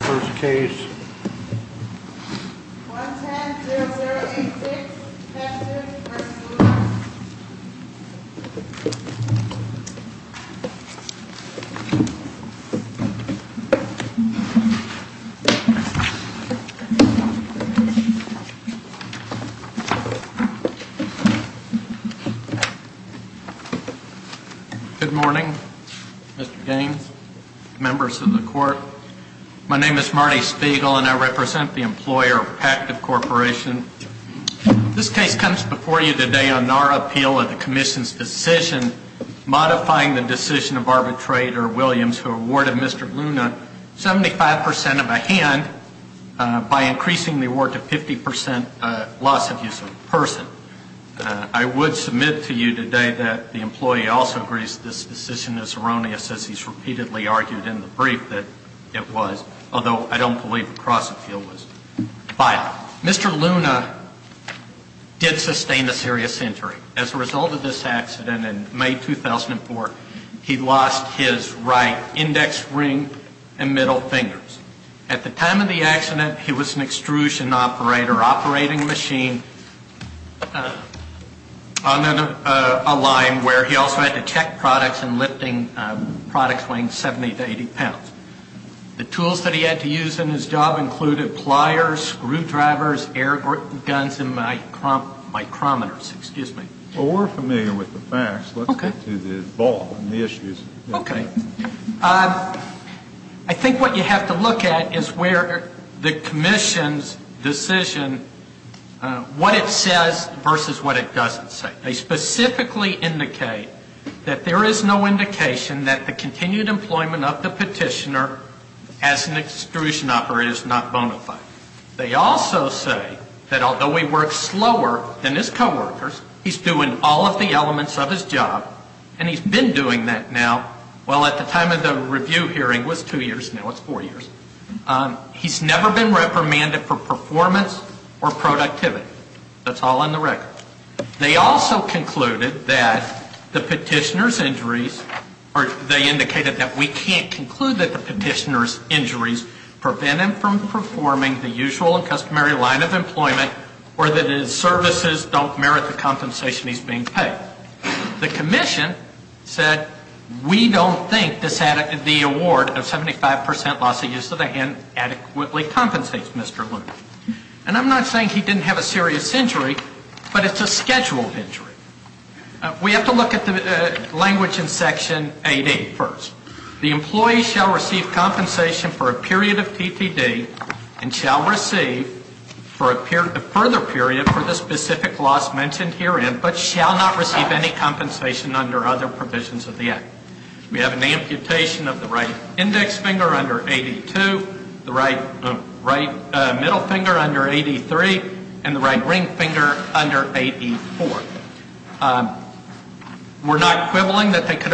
First case, 1-10-0-0-8-6, Texas v. Lewis. Good morning, Mr. Gaines, members of the court. My name is Marty Spiegel, and I represent the employer, Pactiv Corporation. This case comes before you today on our appeal of the Commission's decision modifying the decision of arbitrator Williams, who awarded Mr. Luna 75 percent of a hand by increasing the award to 50 percent loss of use of the person. I would submit to you today that the employee also agrees this decision is erroneous, as he's repeatedly argued in the brief that it was, although I don't believe a cross-appeal was filed. Mr. Luna did sustain a serious injury. As a result of this accident in May 2004, he lost his right index ring and middle fingers. At the time of the accident, he was an extrusion operator, operating machine, on a line where he also had to check products and lifting products weighing 70 to 80 pounds. The tools that he had to use in his job included pliers, screwdrivers, air guns, and micrometers. Well, we're familiar with the facts. Let's get to the ball and the issues. Okay. I think what you have to look at is where the Commission's decision, what it says versus what it doesn't say. They specifically indicate that there is no indication that the continued employment of the petitioner as an extrusion operator is not bona fide. They also say that although he works slower than his coworkers, he's doing all of the elements of his job, and he's been doing that now, well, at the time of the review hearing was two years, now it's four years. He's never been reprimanded for performance or productivity. That's all on the record. They also concluded that the petitioner's injuries, or they indicated that we can't conclude that the petitioner's injuries prevent him from performing the usual and customary line of employment or that his services don't merit the compensation he's being paid. But the Commission said we don't think the award of 75% loss of use of the hand adequately compensates Mr. Loomis. And I'm not saying he didn't have a serious injury, but it's a scheduled injury. We have to look at the language in Section 88 first. The employee shall receive compensation for a period of TTD and shall receive a further period for the specific loss mentioned herein, but shall not receive any compensation under other provisions of the Act. We have an amputation of the right index finger under 82, the right middle finger under 83, and the right ring finger under 84. We're not quibbling that they could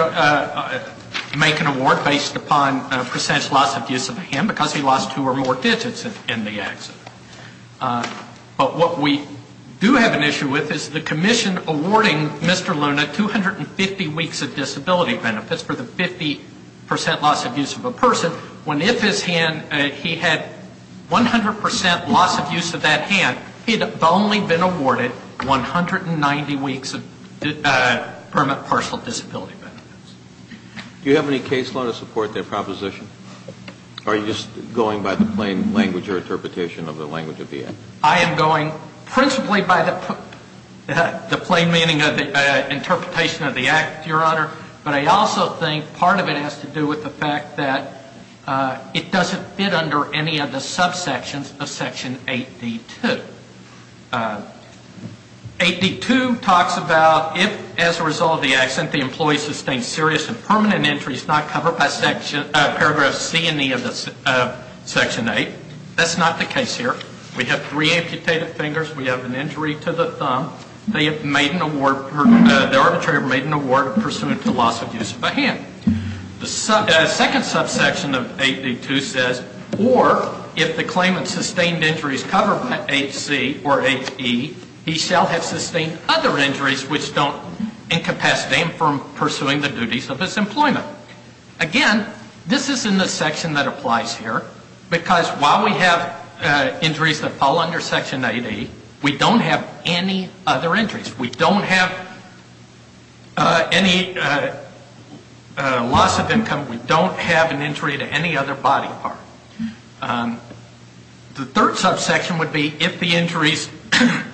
make an award based upon percentage loss of use of a hand because he lost two or more digits in the accident. But what we do have an issue with is the Commission awarding Mr. Loomis 250 weeks of disability benefits for the 50% loss of use of a person, when if his hand, he had 100% loss of use of that hand, he'd have only been awarded 190 weeks of permit partial disability benefits. Do you have any case law to support their proposition? Are you just going by the plain language or interpretation of the language of the Act? I am going principally by the plain meaning of the interpretation of the Act, Your Honor, but I also think part of it has to do with the fact that it doesn't fit under any of the subsections of Section 8D2. 8D2 talks about if, as a result of the accident, the employee sustained serious and permanent injuries not covered by paragraph C and E of Section 8. That's not the case here. We have three amputated fingers. We have an injury to the thumb. They have made an award, the arbitrator made an award pursuant to loss of use of a hand. The second subsection of 8D2 says, or if the claimant sustained injuries covered by H.C. or H.E., he shall have sustained other injuries which don't incapacitate him from pursuing the duties of his employment. Again, this is in the section that applies here because while we have injuries that fall under Section 8E, we don't have any other injuries. We don't have any loss of income. We don't have an injury to any other body part. The third subsection would be if the injuries,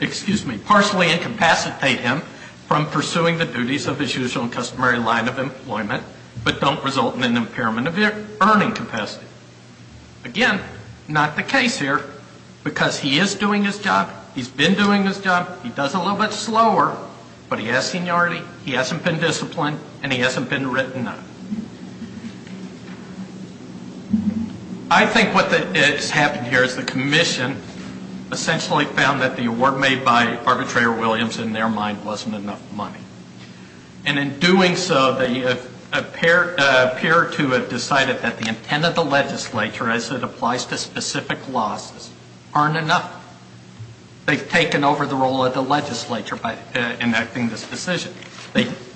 excuse me, partially incapacitate him from pursuing the duties of his usual and customary line of employment but don't result in an impairment of earning capacity. Again, not the case here because he is doing his job. He's been doing his job. He does it a little bit slower, but he has seniority. He hasn't been disciplined, and he hasn't been written up. I think what has happened here is the commission essentially found that the award made by arbitrator Williams, in their mind, wasn't enough money. And in doing so, they appear to have decided that the intent of the legislature, as it applies to specific losses, aren't enough. They've taken over the role of the legislature by enacting this decision.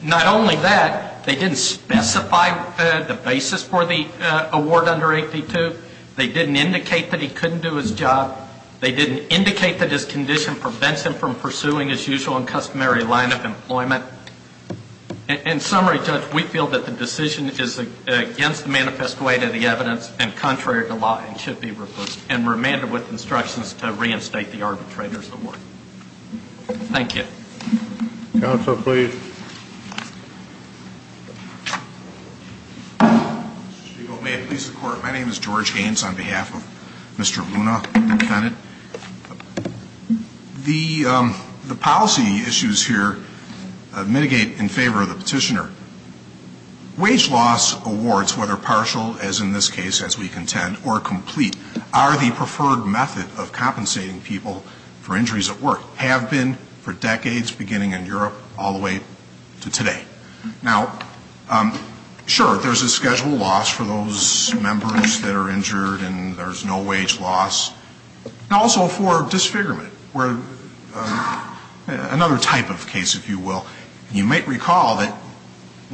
Not only that, they didn't specify the basis for the award under 8D2. They didn't indicate that he couldn't do his job. They didn't indicate that his condition prevents him from pursuing his usual and customary line of employment. In summary, Judge, we feel that the decision is against the manifest way to the evidence and contrary to law and should be remanded with instructions to reinstate the arbitrator's award. Thank you. Counsel, please. Mr. Stegall, may it please the Court. My name is George Gaines on behalf of Mr. Luna, the defendant. The policy issues here mitigate in favor of the petitioner. Wage loss awards, whether partial, as in this case, as we contend, or complete, are the preferred method of compensating people for injuries at work, have been for decades, beginning in Europe all the way to today. Now, sure, there's a schedule loss for those members that are injured and there's no wage loss. And also for disfigurement, another type of case, if you will. You might recall that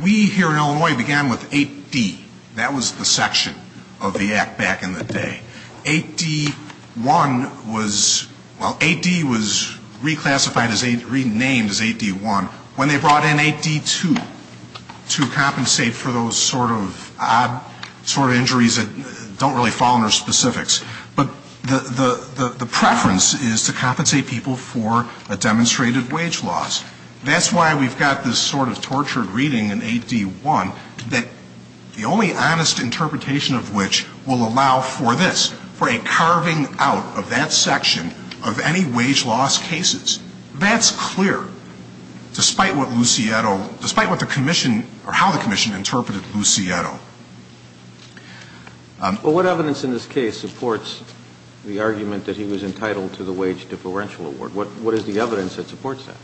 we here in Illinois began with 8D. That was the section of the Act back in the day. 8D1 was, well, 8D was reclassified as 8, renamed as 8D1, when they brought in 8D2 to compensate for those sort of odd sort of injuries that don't really fall under specifics. But the preference is to compensate people for a demonstrated wage loss. That's why we've got this sort of tortured reading in 8D1, that the only honest interpretation of which will allow for this, for a carving out of that section of any wage loss cases. That's clear, despite what Lucietto, despite what the commission, or how the commission interpreted Lucietto. Well, what evidence in this case supports the argument that he was entitled to the wage differential award? What is the evidence that supports that?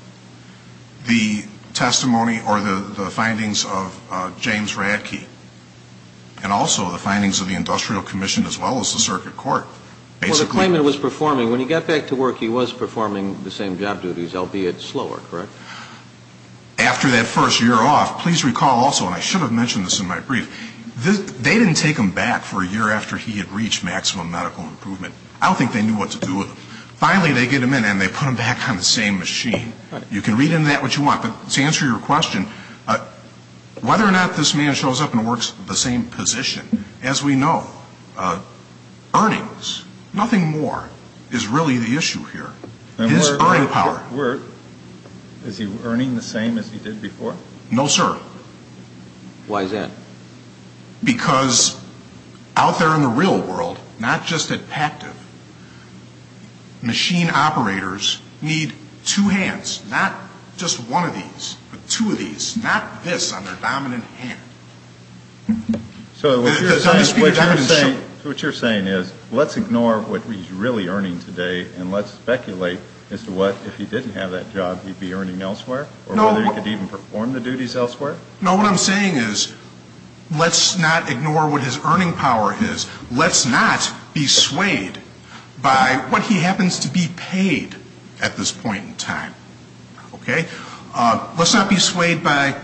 The testimony or the findings of James Radtke. And also the findings of the industrial commission as well as the circuit court. Well, the claimant was performing, when he got back to work, he was performing the same job duties, albeit slower, correct? After that first year off, please recall also, and I should have mentioned this in my brief, they didn't take him back for a year after he had reached maximum medical improvement. I don't think they knew what to do with him. Finally, they get him in and they put him back on the same machine. You can read into that what you want, but to answer your question, whether or not this man shows up and works the same position, as we know, earnings, nothing more, is really the issue here. His earning power. Is he earning the same as he did before? No, sir. Why is that? Because out there in the real world, not just at PACTV, machine operators need two hands, not just one of these, but two of these, not this on their dominant hand. So what you're saying is let's ignore what he's really earning today and let's speculate as to what, if he didn't have that job, he'd be earning elsewhere? Or whether he could even perform the duties elsewhere? No, what I'm saying is let's not ignore what his earning power is. Let's not be swayed by what he happens to be paid at this point in time. Okay? Let's not be swayed by,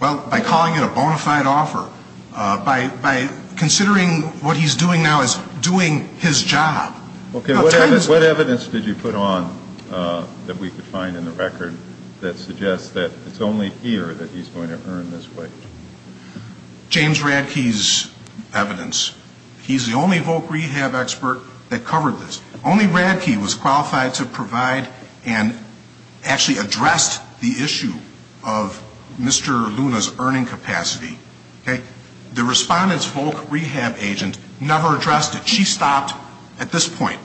well, by calling it a bona fide offer, by considering what he's doing now as doing his job. Okay, what evidence did you put on that we could find in the record that suggests that it's only here that he's going to earn this wage? James Radke's evidence. He's the only Volk rehab expert that covered this. Only Radke was qualified to provide and actually addressed the issue of Mr. Luna's earning capacity. The respondent's Volk rehab agent never addressed it. She stopped at this point.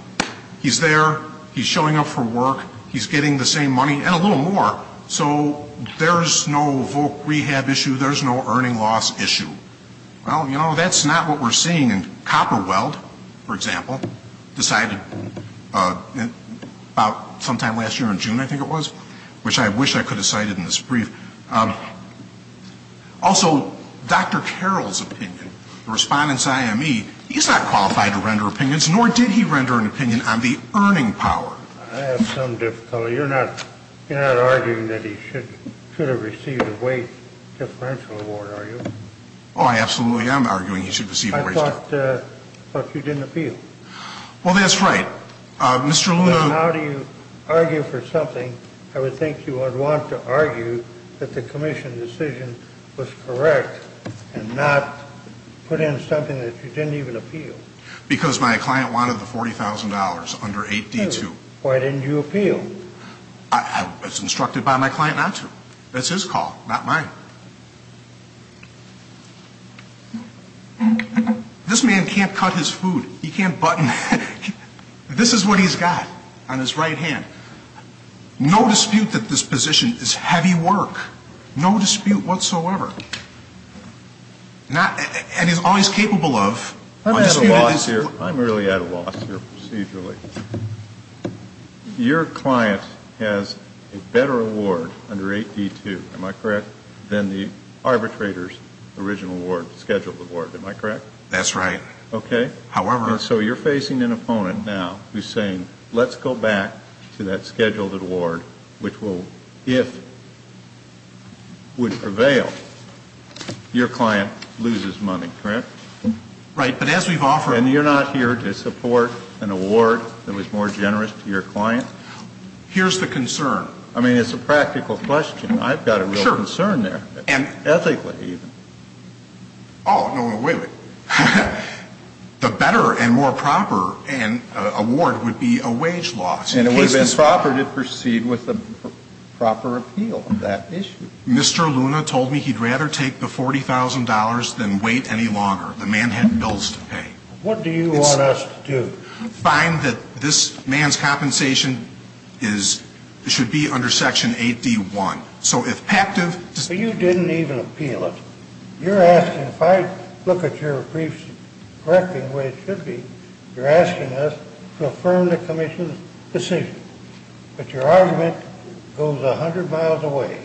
He's there. He's showing up for work. He's getting the same money and a little more. So there's no Volk rehab issue. There's no earning loss issue. Well, you know, that's not what we're seeing in copper weld, for example, decided about sometime last year in June, I think it was, which I wish I could have cited in this brief. Also, Dr. Carroll's opinion, the respondent's IME, he's not qualified to render opinions, nor did he render an opinion on the earning power. I have some difficulty. You're not arguing that he should have received a wage differential award, are you? Oh, I absolutely am arguing he should receive a wage differential. I thought you didn't appeal. Well, that's right. Mr. Luna. How do you argue for something? I would think you would want to argue that the commission decision was correct and not put in something that you didn't even appeal. Because my client wanted the $40,000 under 8D2. Why didn't you appeal? I was instructed by my client not to. That's his call, not mine. This man can't cut his food. He can't button. This is what he's got on his right hand. No dispute that this position is heavy work. No dispute whatsoever. And he's always capable of. I'm at a loss here. I'm really at a loss here procedurally. Your client has a better award under 8D2, am I correct, than the arbitrator's original award, scheduled award, am I correct? That's right. Okay. However. So you're facing an opponent now who's saying let's go back to that scheduled award, which if would prevail, your client loses money, correct? Right. But as we've offered. And you're not here to support an award that was more generous to your client? Here's the concern. I mean, it's a practical question. I've got a real concern there, ethically even. Oh, no, wait, wait. The better and more proper award would be a wage loss. And it would have been proper to proceed with a proper appeal on that issue. Mr. Luna told me he'd rather take the $40,000 than wait any longer. The man had bills to pay. What do you want us to do? Find that this man's compensation should be under Section 8D1. So if active. But you didn't even appeal it. You're asking, if I look at your briefs correctly the way it should be, you're asking us to affirm the commission's decision. But your argument goes 100 miles away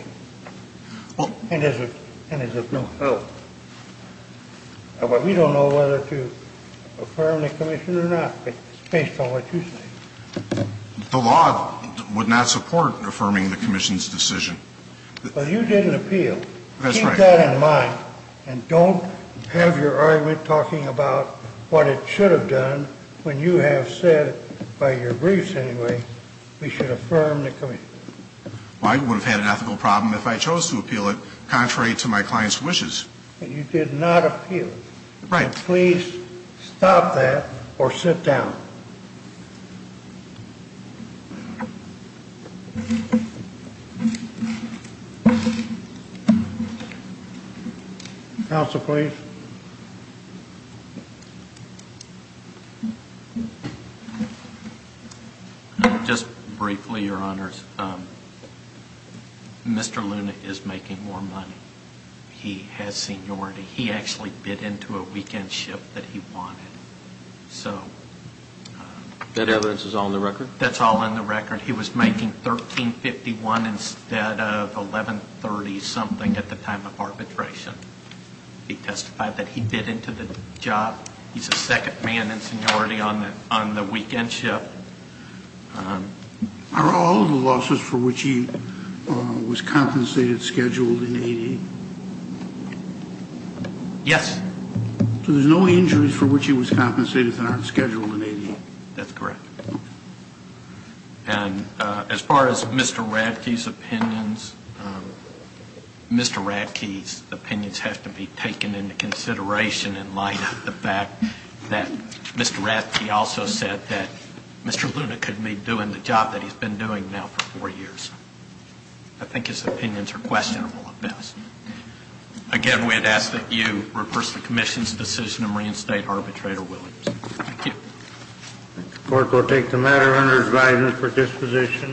and is of no help. We don't know whether to affirm the commission or not based on what you say. The law would not support affirming the commission's decision. But you didn't appeal. Keep that in mind and don't have your argument talking about what it should have done when you have said, by your briefs anyway, we should affirm the commission. Well, I would have had an ethical problem if I chose to appeal it contrary to my client's wishes. But you did not appeal. Right. Please stop that or sit down. Counsel, please. Just briefly, Your Honors, Mr. Luna is making more money. He has seniority. He actually bid into a weekend ship that he wanted. That evidence is all in the record? That's all in the record. He was making $1,351 instead of $1,130 something at the time of arbitration. He testified that he bid into the job. He's a second man in seniority on the weekend ship. Are all of the losses for which he was compensated scheduled in 80? Yes. So there's no injuries for which he was compensated that aren't scheduled in 80? That's correct. And as far as Mr. Radke's opinions, Mr. Radke's opinions have to be taken into consideration in light of the fact that Mr. Radke also said that Mr. Luna couldn't be doing the job that he's been doing now for four years. I think his opinions are questionable at best. Again, we'd ask that you reverse the commission's decision and reinstate arbitrator Williams. Thank you. The court will take the matter under its guidance for disposition.